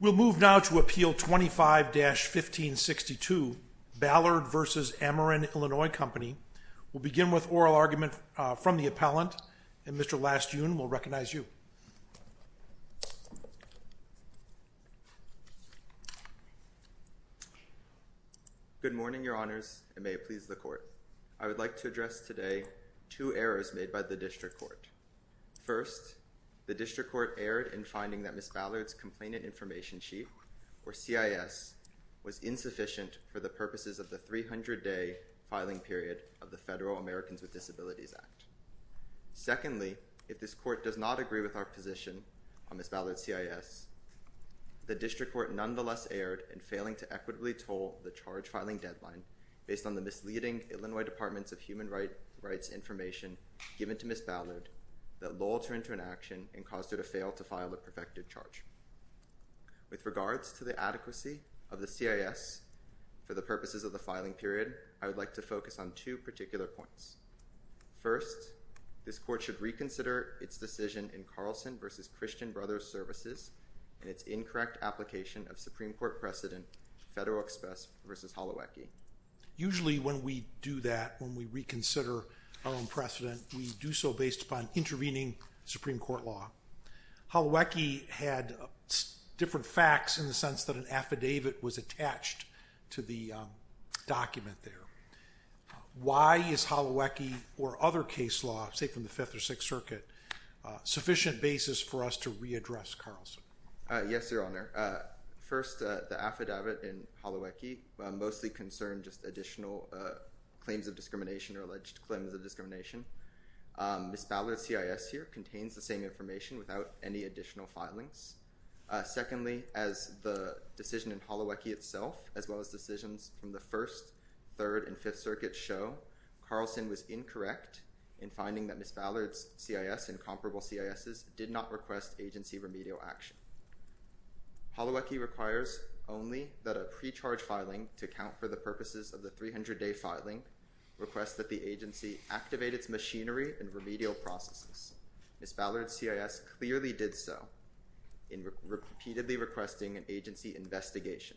We'll move now to Appeal 25-1562. Ballard v. Ameren Illinois Company We'll begin with oral argument from the appellant, and Mr. Lastoon will recognize you. Good morning, Your Honors, and may it please the Court. I would like to address today two errors made by the District Court. First, the District Court erred in finding that Ms. Ballard's Complainant Information Sheet, or CIS, was insufficient for the purposes of the 300-day filing period of the Federal Americans with Disabilities Act. Secondly, if this Court does not agree with our position on Ms. Ballard's CIS, the District Court nonetheless erred in failing to equitably toll the charge filing deadline based on the misleading Illinois Department of Human Rights information given to Ms. Ballard that lulled her into inaction and caused her to fail to file a perfected charge. With regards to the adequacy of the CIS for the purposes of the filing period, I would like to focus on two particular points. First, this Court should reconsider its decision in Carlson v. Christian Brothers Services and its incorrect application of Supreme Court precedent Federal Express v. Holowecki. Usually when we do that, when we reconsider our own precedent, we do so based upon intervening Supreme Court law. Holowecki had different facts in the sense that an affidavit was attached to the document there. Why is Holowecki or other case law, say from the Fifth or Sixth Circuit, sufficient basis for us to readdress Carlson? Yes, Your Honor. First, the affidavit in Holowecki mostly concerned just additional claims of discrimination or alleged claims of discrimination. Ms. Ballard's CIS here contains the same information without any additional filings. Secondly, as the decision in Holowecki itself, as well as decisions from the First, Third, and Fifth Circuits show, Carlson was incorrect in finding that Ms. Ballard's CIS and comparable CISs did not request agency remedial action. Holowecki requires only that a pre-charge filing to account for the purposes of the 300-day filing request that the agency activate its machinery and remedial processes. Ms. Ballard's CIS clearly did so in repeatedly requesting an agency investigation.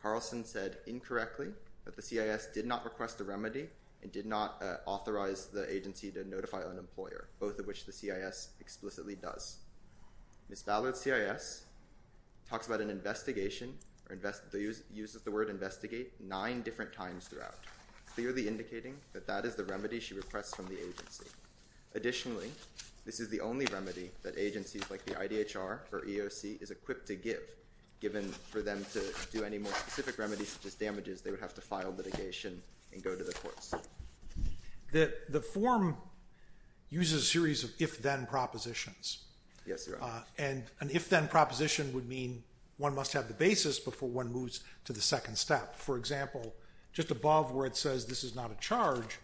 Carlson said incorrectly that the CIS did not request a remedy and did not authorize the agency to notify an employer, both of which the CIS explicitly does. Ms. Ballard's CIS talks about an investigation or uses the word investigate nine different times throughout, clearly indicating that that is the remedy she requests from the agency. Additionally, this is the only remedy that agencies like the IDHR or EOC is equipped to give. Given for them to do any more specific remedies such as damages, they would have to file litigation and go to the courts. The form uses a series of if-then propositions. Yes, Your Honor. And an if-then proposition would mean one must have the basis before one moves to the second step. For example, just above where it says this is not a charge,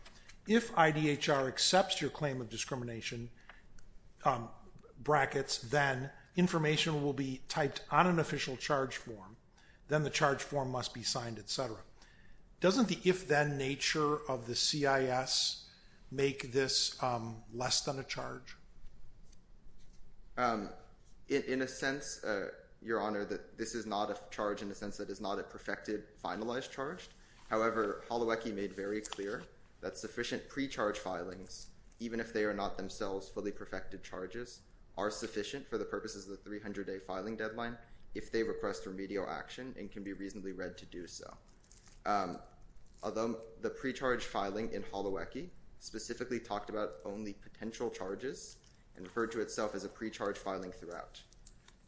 if IDHR accepts your claim of discrimination brackets, then information will be typed on an official charge form, then the charge form must be signed, et cetera. Doesn't the if-then nature of the CIS make this less than a charge? In a sense, Your Honor, this is not a charge in the sense that it is not a perfected, finalized charge. However, Holowecki made very clear that sufficient pre-charge filings, even if they are not themselves fully perfected charges, are sufficient for the purposes of the 300-day filing deadline if they request remedial action and can be reasonably read to do so. Although the pre-charge filing in Holowecki specifically talked about only potential charges and referred to itself as a pre-charge filing throughout.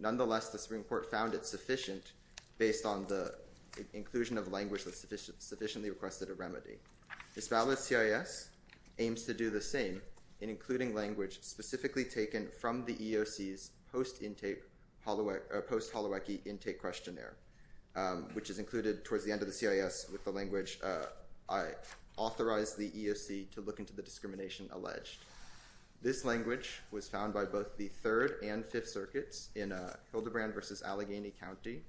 Nonetheless, the Supreme Court found it sufficient based on the inclusion of language that sufficiently requested a remedy. This valid CIS aims to do the same in including language specifically taken from the EEOC's post-Holowecki intake questionnaire, which is included towards the end of the CIS with the language, I authorize the EEOC to look into the discrimination alleged. This language was found by both the Third and Fifth Circuits in Hildebrand versus Allegheny County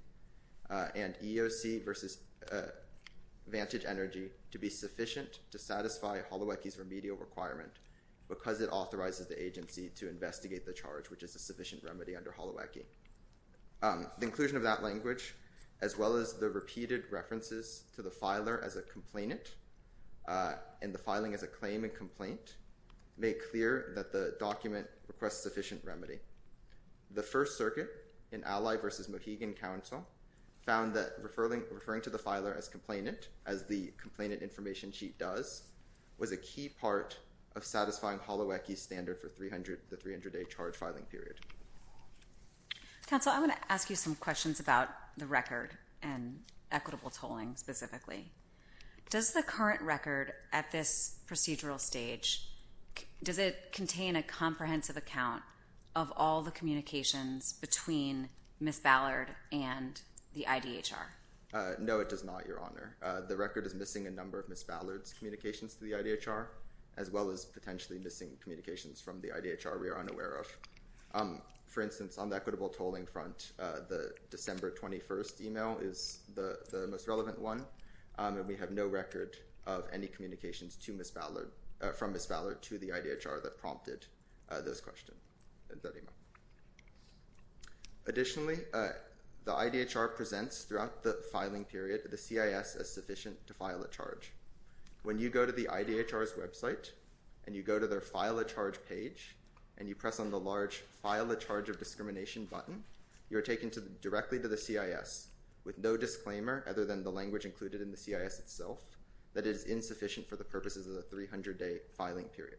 and EEOC versus Vantage Energy to be sufficient to satisfy Holowecki's remedial requirement because it authorizes the agency to investigate the charge, which is a sufficient remedy under Holowecki. The inclusion of that language, as well as the repeated references to the filer as a complainant and the filing as a claim and complaint, make clear that the document requests sufficient remedy. The First Circuit in Alley versus Mohegan Council found that referring to the filer as complainant, as the complainant information sheet does, was a key part of satisfying Holowecki's standard for the 300-day charge filing period. Counsel, I want to ask you some questions about the record and equitable tolling specifically. Does the current record at this procedural stage, does it contain a comprehensive account of all the communications between Ms. Ballard and the IDHR? No, it does not, Your Honor. The record is missing a number of Ms. Ballard's communications to the IDHR, as well as potentially missing communications from the IDHR we are unaware of. For instance, on the equitable tolling front, the December 21st email is the most relevant one, and we have no record of any communications from Ms. Ballard to the IDHR that prompted this question. Additionally, the IDHR presents throughout the filing period the CIS as sufficient to file a charge. When you go to the IDHR's website and you go to their file a charge page and you press on the large file a charge of discrimination button, you are taken directly to the CIS with no disclaimer other than the language included in the CIS itself that it is insufficient for the purposes of the 300-day filing period.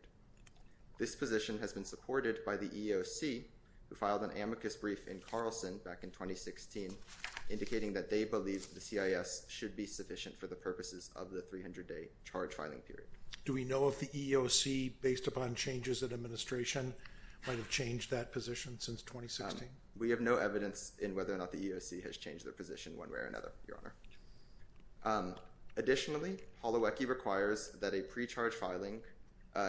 This position has been supported by the EEOC, who filed an amicus brief in Carlson back in 2016, indicating that they believe the CIS should be sufficient for the purposes of the 300-day charge filing period. Do we know if the EEOC, based upon changes in administration, might have changed that position since 2016? We have no evidence in whether or not the EEOC has changed their position one way or another, Your Honor. Additionally, Holowecki requires that a pre-charge filing,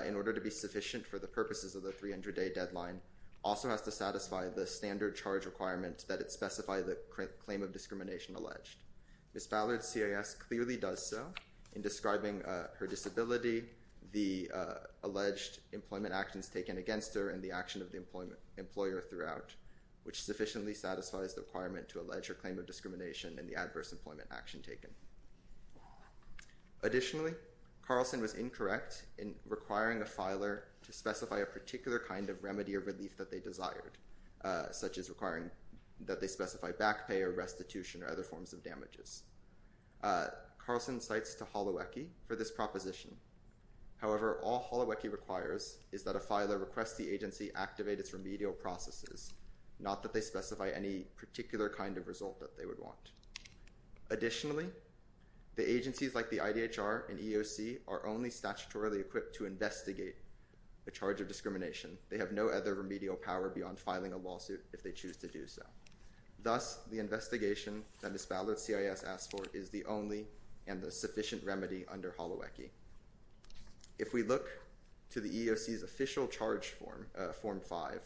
in order to be sufficient for the purposes of the 300-day deadline, also has to satisfy the standard charge requirement that it specify the claim of discrimination alleged. Ms. Ballard's CIS clearly does so in describing her disability, the alleged employment actions taken against her, and the action of the employer throughout, which sufficiently satisfies the requirement to allege her claim of discrimination and the adverse employment action taken. Additionally, Carlson was incorrect in requiring a filer to specify a particular kind of remedy or relief that they desired, such as requiring that they specify back pay or restitution or other forms of damages. Carlson cites to Holowecki for this proposition. However, all Holowecki requires is that a filer request the agency activate its remedial processes, not that they specify any particular kind of result that they would want. Additionally, the agencies like the IDHR and EEOC are only statutorily equipped to investigate a charge of discrimination. They have no other remedial power beyond filing a lawsuit if they choose to do so. Thus, the investigation that Ms. Ballard's CIS asks for is the only and the sufficient remedy under Holowecki. If we look to the EEOC's official charge form, form 5,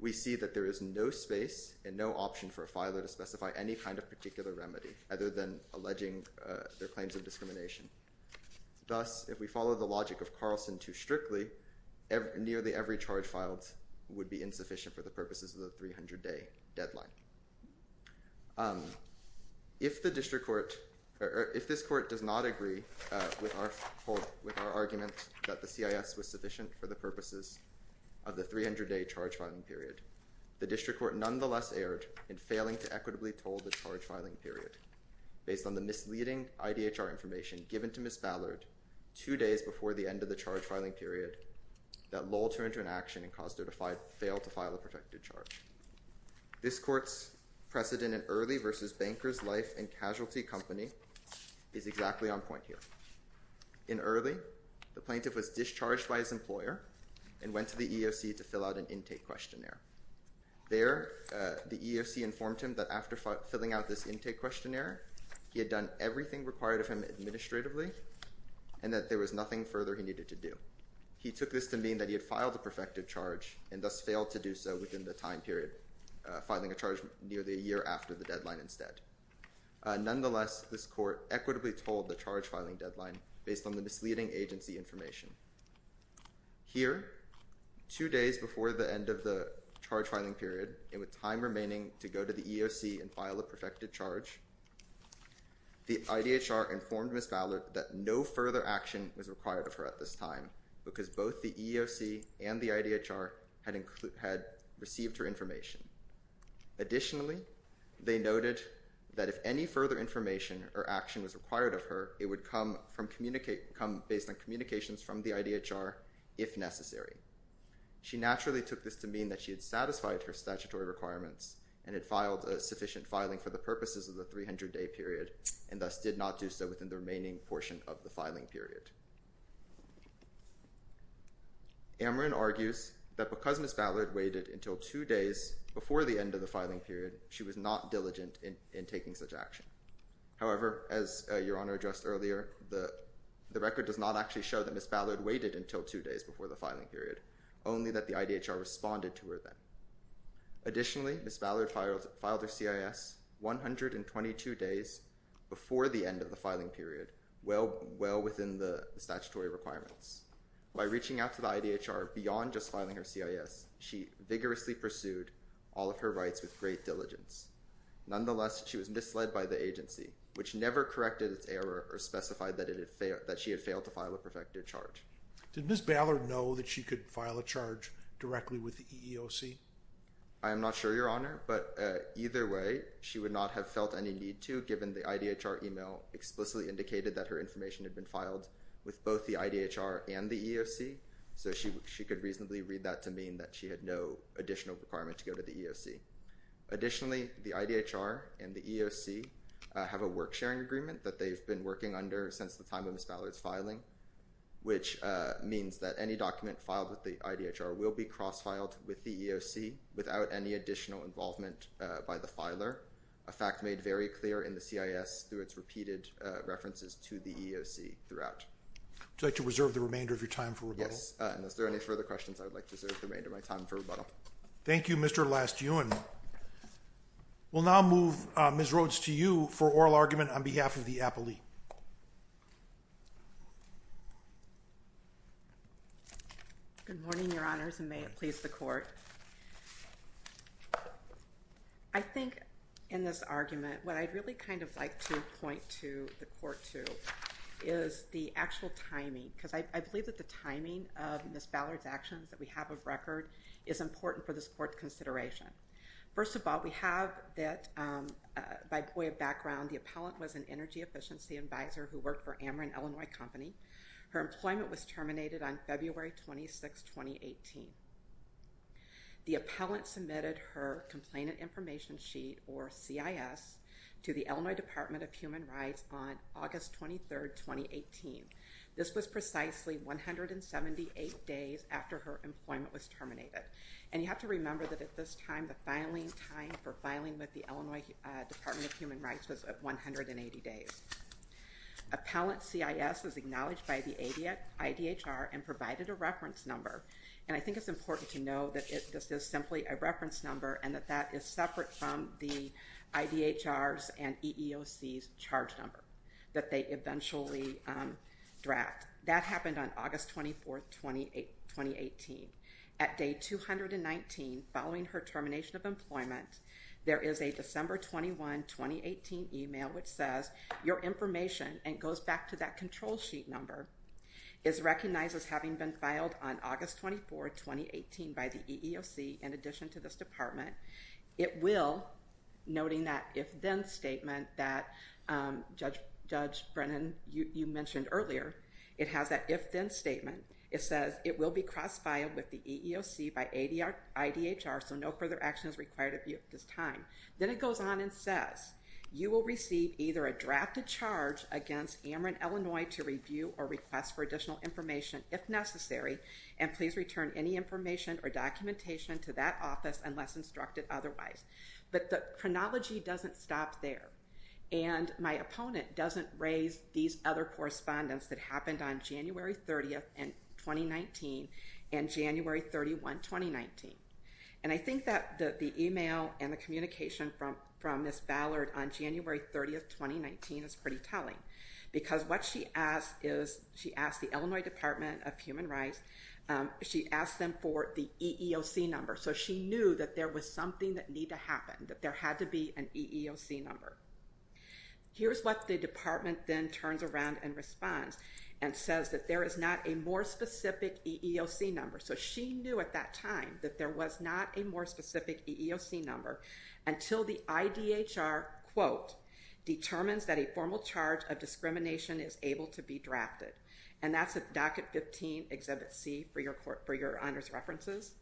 we see that there is no space and no option for a filer to specify any kind of particular remedy, other than alleging their claims of discrimination. Thus, if we follow the logic of Carlson to strictly, nearly every charge filed would be insufficient for the purposes of the 300-day deadline. If the district court, or if this court does not agree with our argument that the CIS was sufficient for the purposes of the 300-day charge filing period, the district court nonetheless erred in failing to equitably toll the charge filing period. Based on the misleading IDHR information given to Ms. Ballard two days before the end of the charge filing period, that lulled her into an action and caused her to fail to file a protected charge. This court's precedent in early versus banker's life and casualty company is exactly on point here. In early, the plaintiff was discharged by his employer and went to the EEOC to fill out an intake questionnaire. There, the EEOC informed him that after filling out this intake questionnaire, he had done everything required of him administratively and that there was nothing further he needed to do. He took this to mean that he had filed a perfected charge and thus failed to do so within the time period, filing a charge nearly a year after the deadline instead. Nonetheless, this court equitably tolled the charge filing deadline based on the misleading agency information. Here, two days before the end of the charge filing period, and with time remaining to go to the EEOC and file a perfected charge, the IDHR informed Ms. Ballard that no further action was required of her at this time because both the EEOC and the IDHR had received her information. Additionally, they noted that if any further information or action was required of her, it would come based on communications from the IDHR if necessary. She naturally took this to mean that she had satisfied her statutory requirements and had filed a sufficient filing for the purposes of the 300-day period and thus did not do so within the remaining portion of the filing period. Amron argues that because Ms. Ballard waited until two days before the end of the filing period, she was not diligent in taking such action. However, as Your Honor addressed earlier, the record does not actually show that Ms. Ballard waited until two days before the filing period, only that the IDHR responded to her then. Additionally, Ms. Ballard filed her CIS 122 days before the end of the filing period, well within the statutory requirements. By reaching out to the IDHR beyond just filing her CIS, she vigorously pursued all of her rights with great diligence. Nonetheless, she was misled by the agency, which never corrected its error or specified that she had failed to file a perfected charge. Did Ms. Ballard know that she could file a charge directly with the EEOC? I am not sure, Your Honor, but either way, she would not have felt any need to given the IDHR email explicitly indicated that her information had been filed with both the IDHR and the EEOC, so she could reasonably read that to mean that she had no additional requirement to go to the EEOC. Additionally, the IDHR and the EEOC have a work-sharing agreement that they've been working under since the time of Ms. Ballard's filing, which means that any document filed with the IDHR will be cross-filed with the EEOC without any additional involvement by the filer, a fact made very clear in the CIS through its repeated references to the EEOC throughout. Would you like to reserve the remainder of your time for rebuttal? Yes, and if there are any further questions, I would like to reserve the remainder of my time for rebuttal. Thank you, Mr. Lastuen. We'll now move Ms. Rhodes to you for oral argument on behalf of the appellee. Good morning, Your Honors, and may it please the Court. I think in this argument, what I'd really kind of like to point to the Court to is the actual timing, because I believe that the timing of Ms. Ballard's actions that we have of record is important for this Court's consideration. First of all, we have that by way of background, the appellant was an Energy Efficiency Advisor who worked for Ameren Illinois Company. Her employment was terminated on February 26, 2018. The appellant submitted her Complainant Information Sheet, or CIS, to the Illinois Department of Human Rights on August 23, 2018. This was precisely 178 days after her employment was terminated, and you have to remember that at this time, the filing time for filing with the Illinois Department of Human Rights was 180 days. Appellant CIS was acknowledged by the IDHR and provided a reference number, and I think it's important to know that this is simply a reference number and that that is separate from the IDHR's and EEOC's charge number, that they eventually draft. That happened on August 24, 2018. At day 219, following her termination of employment, there is a December 21, 2018 email which says, your information, and it goes back to that control sheet number, is recognized as having been filed on August 24, 2018 by the EEOC, in addition to this department. It will, noting that if-then statement that Judge Brennan, you mentioned earlier, it has that if-then statement, it says, it will be cross-filed with the EEOC by IDHR, so no further action is required at this time. Then it goes on and says, you will receive either a drafted charge against Ameren, Illinois, to review or request for additional information, if necessary, and please return any information or documentation to that office unless instructed otherwise. But the chronology doesn't stop there, and my opponent doesn't raise these other correspondence that happened on January 30, 2019, and January 31, 2019. And I think that the email and the communication from Ms. Ballard on January 30, 2019 is pretty telling, because what she asked is, she asked the Illinois Department of Human Rights, she asked them for the EEOC number, so she knew that there was something that needed to happen, that there had to be an EEOC number. Here's what the department then turns around and responds, and says that there is not a more specific EEOC number, so she knew at that time that there was not a more specific EEOC number, until the IDHR, quote, determines that a formal charge of discrimination is able to be drafted. And that's at Docket 15, Exhibit C, for your honors references,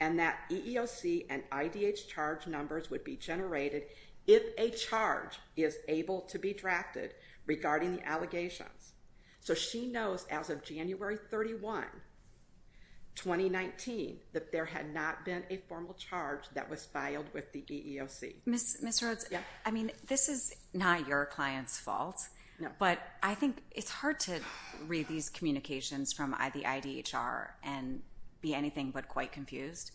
and that EEOC and IDH charge numbers would be generated if a charge is able to be drafted regarding the allegations. So she knows as of January 31, 2019, that there had not been a formal charge that was filed with the EEOC. Ms. Rhodes, I mean, this is not your client's fault, but I think it's hard to read these communications from the IDHR and be anything but quite confused.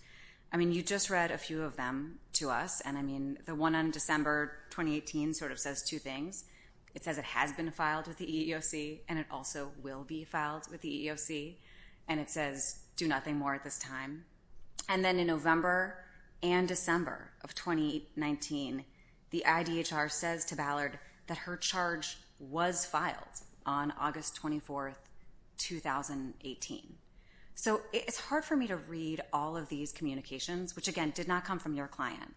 I mean, you just read a few of them to us, and I mean, the one on December 2018 sort of says two things. It says it has been filed with the EEOC, and it also will be filed with the EEOC, and it says do nothing more at this time. And then in November and December of 2019, the IDHR says to Ballard that her charge was filed on August 24, 2018. So it's hard for me to read all of these communications, which again did not come from your client,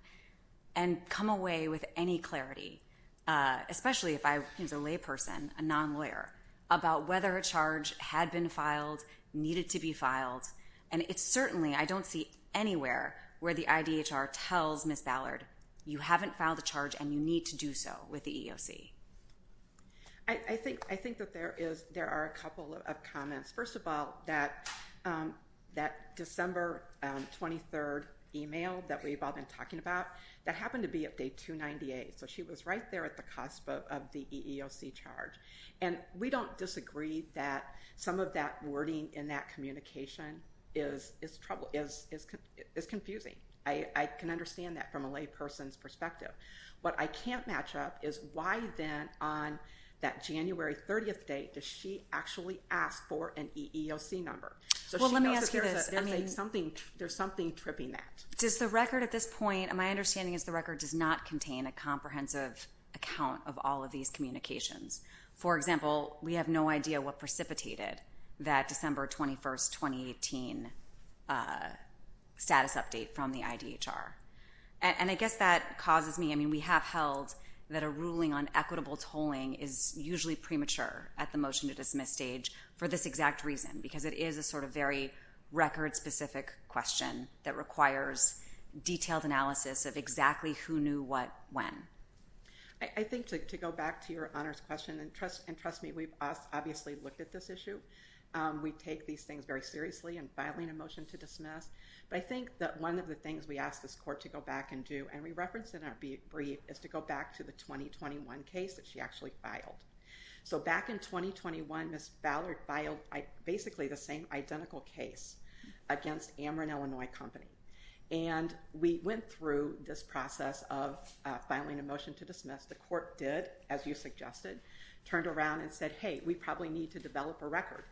and come away with any clarity, especially if I was a layperson, a non-lawyer, about whether a charge had been filed, needed to be filed, and it's certainly I don't see anywhere where the IDHR tells Ms. Ballard, you haven't filed a charge and you need to do so with the EEOC. I think that there are a couple of comments. First of all, that December 23rd email that we've all been talking about, that happened to be of day 298, so she was right there at the cusp of the EEOC charge. And we don't disagree that some of that wording in that communication is confusing. I can understand that from a layperson's perspective. What I can't match up is why then on that January 30th date does she actually ask for an EEOC number? Well, let me ask you this. There's something tripping that. Does the record at this point, my understanding is the record does not contain a comprehensive account of all of these communications. For example, we have no idea what precipitated that December 21st, 2018 status update from the IDHR. And I guess that causes me, I mean, we have held that a ruling on equitable tolling is usually premature at the motion to dismiss stage for this exact reason, because it is a sort of very record-specific question that requires detailed analysis of exactly who knew what when. I think to go back to your honors question, and trust me, we've obviously looked at this issue. We take these things very seriously in filing a motion to dismiss. But I think that one of the things we ask this court to go back and do, and we referenced in our brief, is to go back to the 2021 case that she actually filed. So back in 2021, Ms. Ballard filed basically the same identical case against Amron, Illinois Company. And we went through this process of filing a motion to dismiss. The court did, as you suggested, turned around and said, hey, we probably need to develop a record.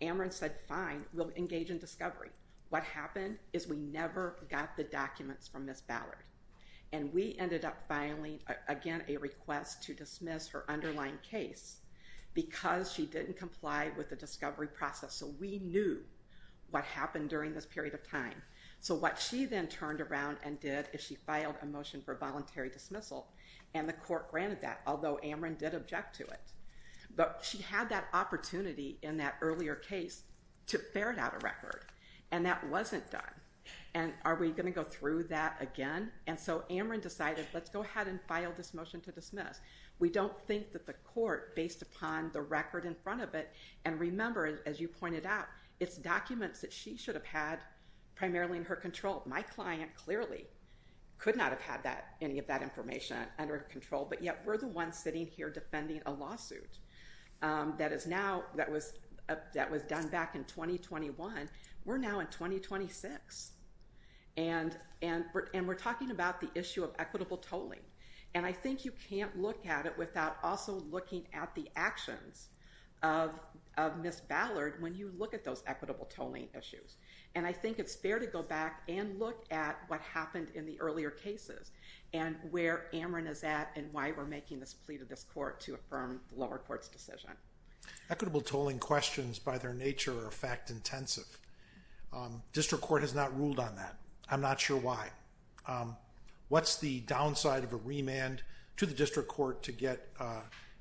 Amron said, fine, we'll engage in discovery. What happened is we never got the documents from Ms. Ballard. And we ended up filing, again, a request to dismiss her underlying case because she didn't comply with the discovery process. So we knew what happened during this period of time. So what she then turned around and did is she filed a motion for voluntary dismissal. And the court granted that, although Amron did object to it. But she had that opportunity in that earlier case to ferret out a record. And that wasn't done. And are we going to go through that again? And so Amron decided, let's go ahead and file this motion to dismiss. We don't think that the court, based upon the record in front of it, and remember, as you pointed out, it's documents that she should have had primarily in her control. My client clearly could not have had any of that information under control. But yet we're the ones sitting here defending a lawsuit that was done back in 2021. We're now in 2026. And we're talking about the issue of equitable tolling. And I think you can't look at it without also looking at the actions of Ms. Ballard. When you look at those equitable tolling issues. And I think it's fair to go back and look at what happened in the earlier cases. And where Amron is at and why we're making this plea to this court to affirm the lower court's decision. Equitable tolling questions, by their nature, are fact intensive. District court has not ruled on that. I'm not sure why. What's the downside of a remand to the district court to get,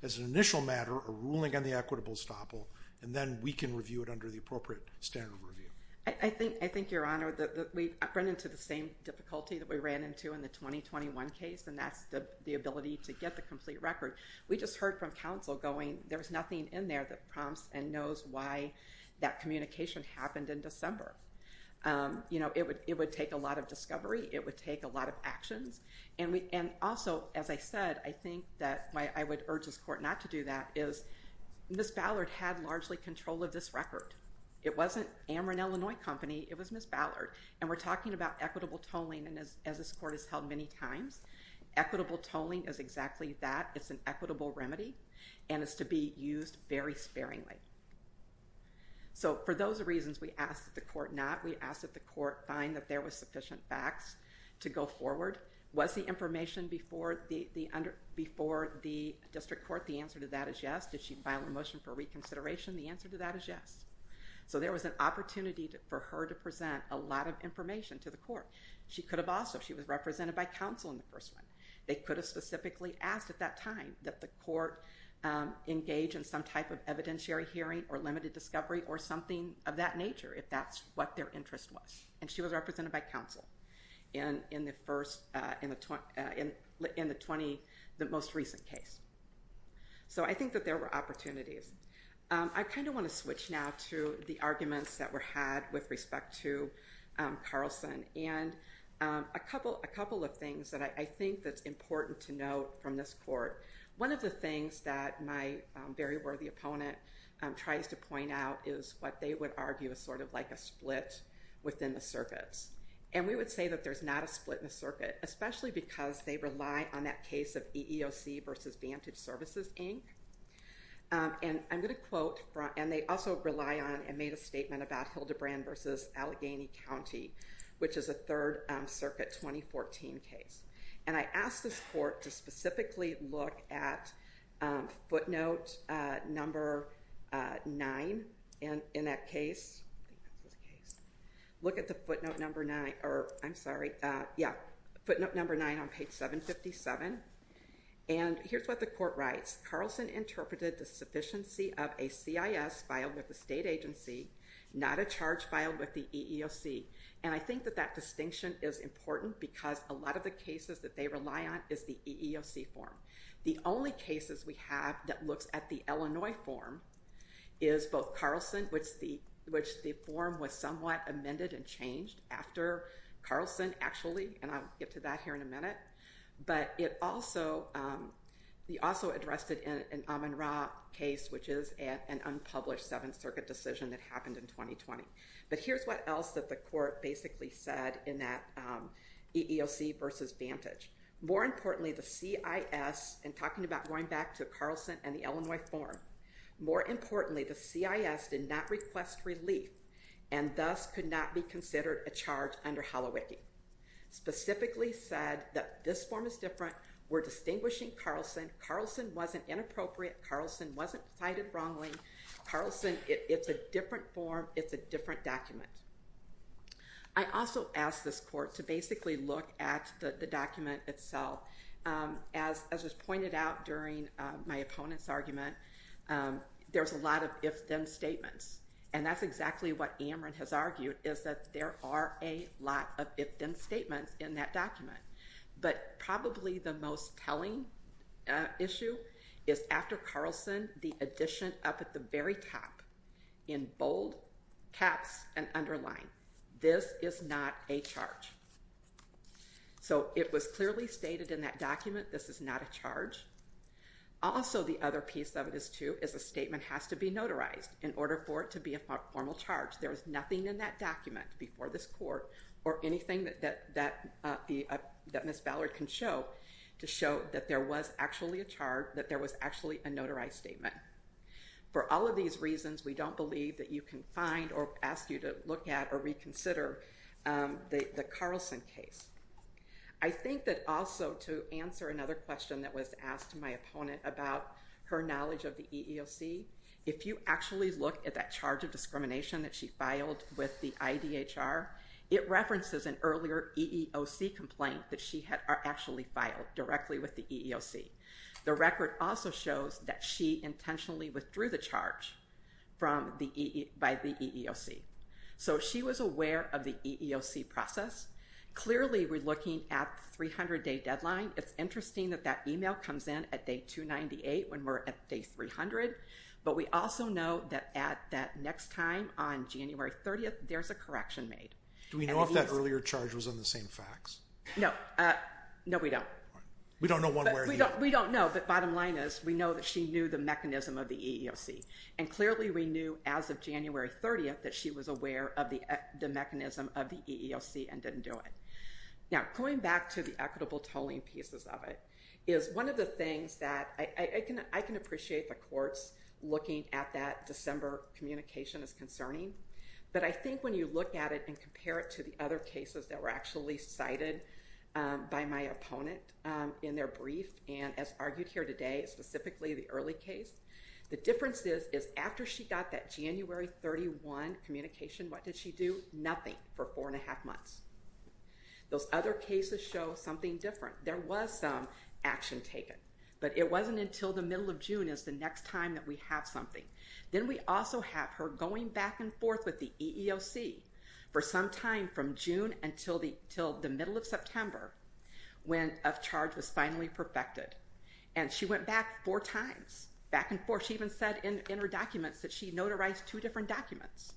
as an initial matter, a ruling on the equitable stopple, and then we can review it under the appropriate standard of review? I think, Your Honor, we've run into the same difficulty that we ran into in the 2021 case. And that's the ability to get the complete record. We just heard from counsel going, there's nothing in there that prompts and knows why that communication happened in December. You know, it would take a lot of discovery. It would take a lot of actions. And also, as I said, I think that why I would urge this court not to do that is, Ms. Ballard had largely control of this record. It wasn't Amron, Illinois Company. It was Ms. Ballard. And we're talking about equitable tolling. And as this court has held many times, equitable tolling is exactly that. It's an equitable remedy. And it's to be used very sparingly. So for those reasons, we ask that the court not. We ask that the court find that there was sufficient facts to go forward. Was the information before the district court, the answer to that is yes. Did she file a motion for reconsideration? The answer to that is yes. So there was an opportunity for her to present a lot of information to the court. She could have also. She was represented by counsel in the first one. They could have specifically asked at that time that the court engage in some type of evidentiary hearing or limited discovery or something of that nature, if that's what their interest was. And she was represented by counsel in the first, in the 20, the most recent case. So I think that there were opportunities. I kind of want to switch now to the arguments that were had with respect to Carlson. And a couple of things that I think that's important to note from this court. One of the things that my very worthy opponent tries to point out is what they would argue is sort of like a split within the circuits. And we would say that there's not a split in the circuit, especially because they rely on that case of EEOC versus Vantage Services, Inc. And I'm going to quote, and they also rely on and made a statement about Hildebrand versus Allegheny County, which is a third circuit 2014 case. And I asked this court to specifically look at footnote number nine in that case. Look at the footnote number nine, or I'm sorry. Yeah. Footnote number nine on page 757. And here's what the court writes. Carlson interpreted the sufficiency of a CIS filed with the state agency, not a charge filed with the EEOC. And I think that that distinction is important because a lot of the cases that they rely on is the EEOC form. The only cases we have that looks at the Illinois form is both Carlson, which the form was somewhat amended and changed after Carlson actually, and I'll get to that here in a minute. But it also, we also addressed it in Amin Ra case, which is an unpublished seventh circuit decision that happened in 2020. But here's what else that the court basically said in that EEOC versus Vantage. More importantly, the CIS, and talking about going back to Carlson and the Illinois form, more importantly, the CIS did not request relief and thus could not be considered a charge under Holowiki. Specifically said that this form is different. We're distinguishing Carlson. Carlson wasn't inappropriate. Carlson wasn't cited wrongly. Carlson, it's a different form. It's a different document. I also asked this court to basically look at the document itself. As was pointed out during my opponent's argument, there's a lot of if-then statements. And that's exactly what Amrin has argued, is that there are a lot of if-then statements in that document. But probably the most telling issue is after Carlson, the addition up at the very top in bold caps and underline. This is not a charge. So it was clearly stated in that document, this is not a charge. Also, the other piece of this, too, is a statement has to be notarized in order for it to be a formal charge. There is nothing in that document before this court or anything that Ms. Ballard can show to show that there was actually a charge, that there was actually a notarized statement. For all of these reasons, we don't believe that you can find or ask you to look at or reconsider the Carlson case. I think that also to answer another question that was asked to my opponent about her knowledge of the EEOC, if you actually look at that charge of discrimination that she filed with the IDHR, it references an earlier EEOC complaint that she had actually filed directly with the EEOC. The record also shows that she intentionally withdrew the charge by the EEOC. So she was aware of the EEOC process. Clearly, we're looking at the 300-day deadline. It's interesting that that email comes in at day 298 when we're at day 300. But we also know that at that next time on January 30th, there's a correction made. Do we know if that earlier charge was on the same fax? No. No, we don't. We don't know one way or the other. We don't know. But bottom line is we know that she knew the mechanism of the EEOC. And clearly, we knew as of January 30th that she was aware of the mechanism of the EEOC and didn't do it. Now, going back to the equitable tolling pieces of it is one of the things that I can appreciate the courts looking at that December communication as concerning. But I think when you look at it and compare it to the other cases that were actually cited by my opponent in their brief, and as argued here today, specifically the early case, the difference is after she got that January 31 communication, what did she do? Nothing for four and a half months. Those other cases show something different. There was some action taken. But it wasn't until the middle of June is the next time that we have something. Then we also have her going back and forth with the EEOC for some time from June until the middle of September when a charge was finally perfected. And she went back four times. Back and forth. She even said in her documents that she notarized two different documents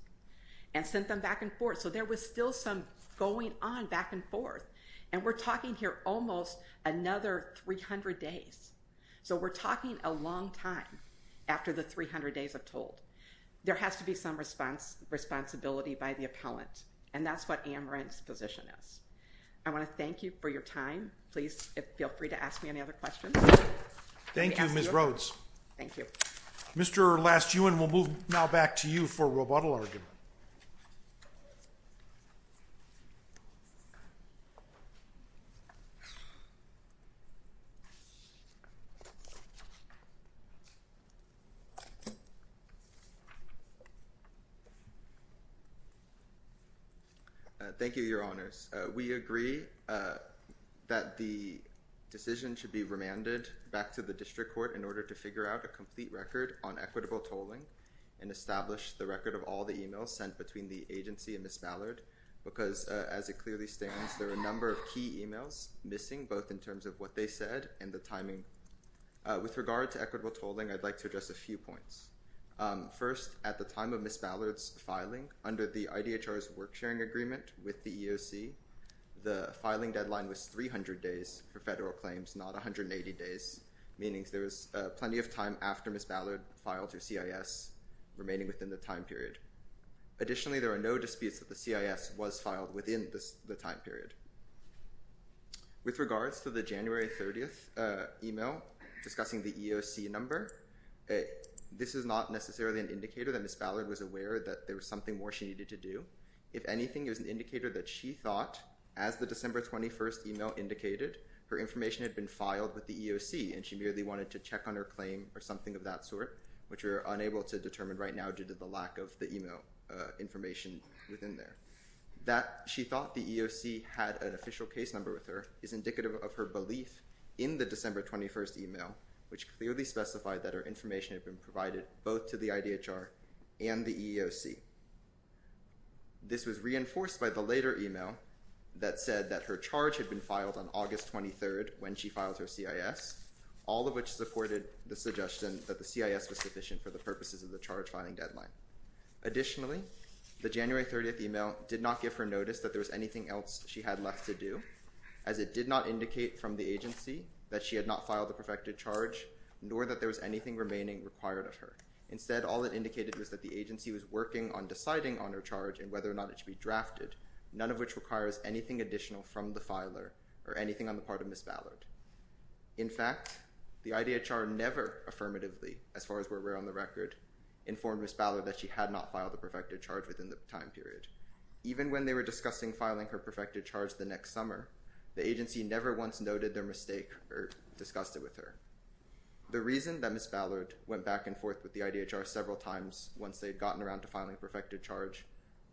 and sent them back and forth. So there was still some going on back and forth. And we're talking here almost another 300 days. So we're talking a long time after the 300 days of toll. There has to be some responsibility by the appellant. And that's what Amaranth's position is. I want to thank you for your time. Please feel free to ask me any other questions. Thank you, Ms. Rhodes. Thank you. Mr. Lastuen, we'll move now back to you for rebuttal argument. Thank you. Thank you, Your Honors. We agree that the decision should be remanded back to the district court in order to figure out a complete record on equitable tolling and establish the record of all the e-mails sent between the agency and Ms. Ballard because, as it clearly stands, there are a number of key e-mails missing, both in terms of what they said and the timing. With regard to equitable tolling, I'd like to address a few points. First, at the time of Ms. Ballard's filing, under the IDHR's work-sharing agreement with the EEOC, the filing deadline was 300 days for federal claims, not 180 days, meaning there was plenty of time after Ms. Ballard filed her CIS remaining within the time period. Additionally, there are no disputes that the CIS was filed within the time period. With regards to the January 30th e-mail discussing the EEOC number, this is not necessarily an indicator that Ms. Ballard was aware that there was something more she needed to do. If anything, it was an indicator that she thought, as the December 21st e-mail indicated, her information had been filed with the EEOC and she merely wanted to check on her claim or something of that sort, which we are unable to determine right now due to the lack of the e-mail information within there. That she thought the EEOC had an official case number with her is indicative of her belief in the December 21st e-mail, which clearly specified that her information had been provided both to the IDHR and the EEOC. This was reinforced by the later e-mail that said that her charge had been filed on August 23rd when she filed her CIS, all of which supported the suggestion that the CIS was sufficient for the purposes of the charge filing deadline. Additionally, the January 30th e-mail did not give her notice that there was anything else she had left to do, as it did not indicate from the agency that she had not filed the perfected charge, nor that there was anything remaining required of her. Instead, all it indicated was that the agency was working on deciding on her charge and whether or not it should be drafted, none of which requires anything additional from the filer or anything on the part of Ms. Ballard. In fact, the IDHR never affirmatively, as far as we're aware on the record, informed Ms. Ballard that she had not filed the perfected charge within the time period. Even when they were discussing filing her perfected charge the next summer, the agency never once noted their mistake or discussed it with her. The reason that Ms. Ballard went back and forth with the IDHR several times once they had gotten around to filing a perfected charge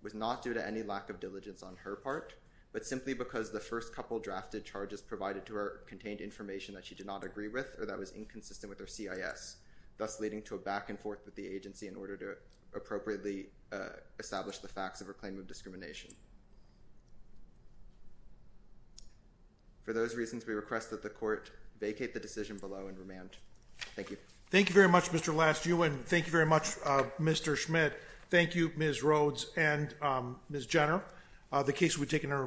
was not due to any lack of diligence on her part, but simply because the first couple drafted charges provided to her contained information that she did not agree with or that was inconsistent with her CIS, thus leading to a back and forth with the agency in order to appropriately establish the facts of her claim of discrimination. For those reasons, we request that the Court vacate the decision below and remand. Thank you. Thank you very much, Mr. Lastiew and thank you very much, Mr. Schmidt. Thank you, Ms. Rhodes and Ms. Jenner. The case will be taken under revision.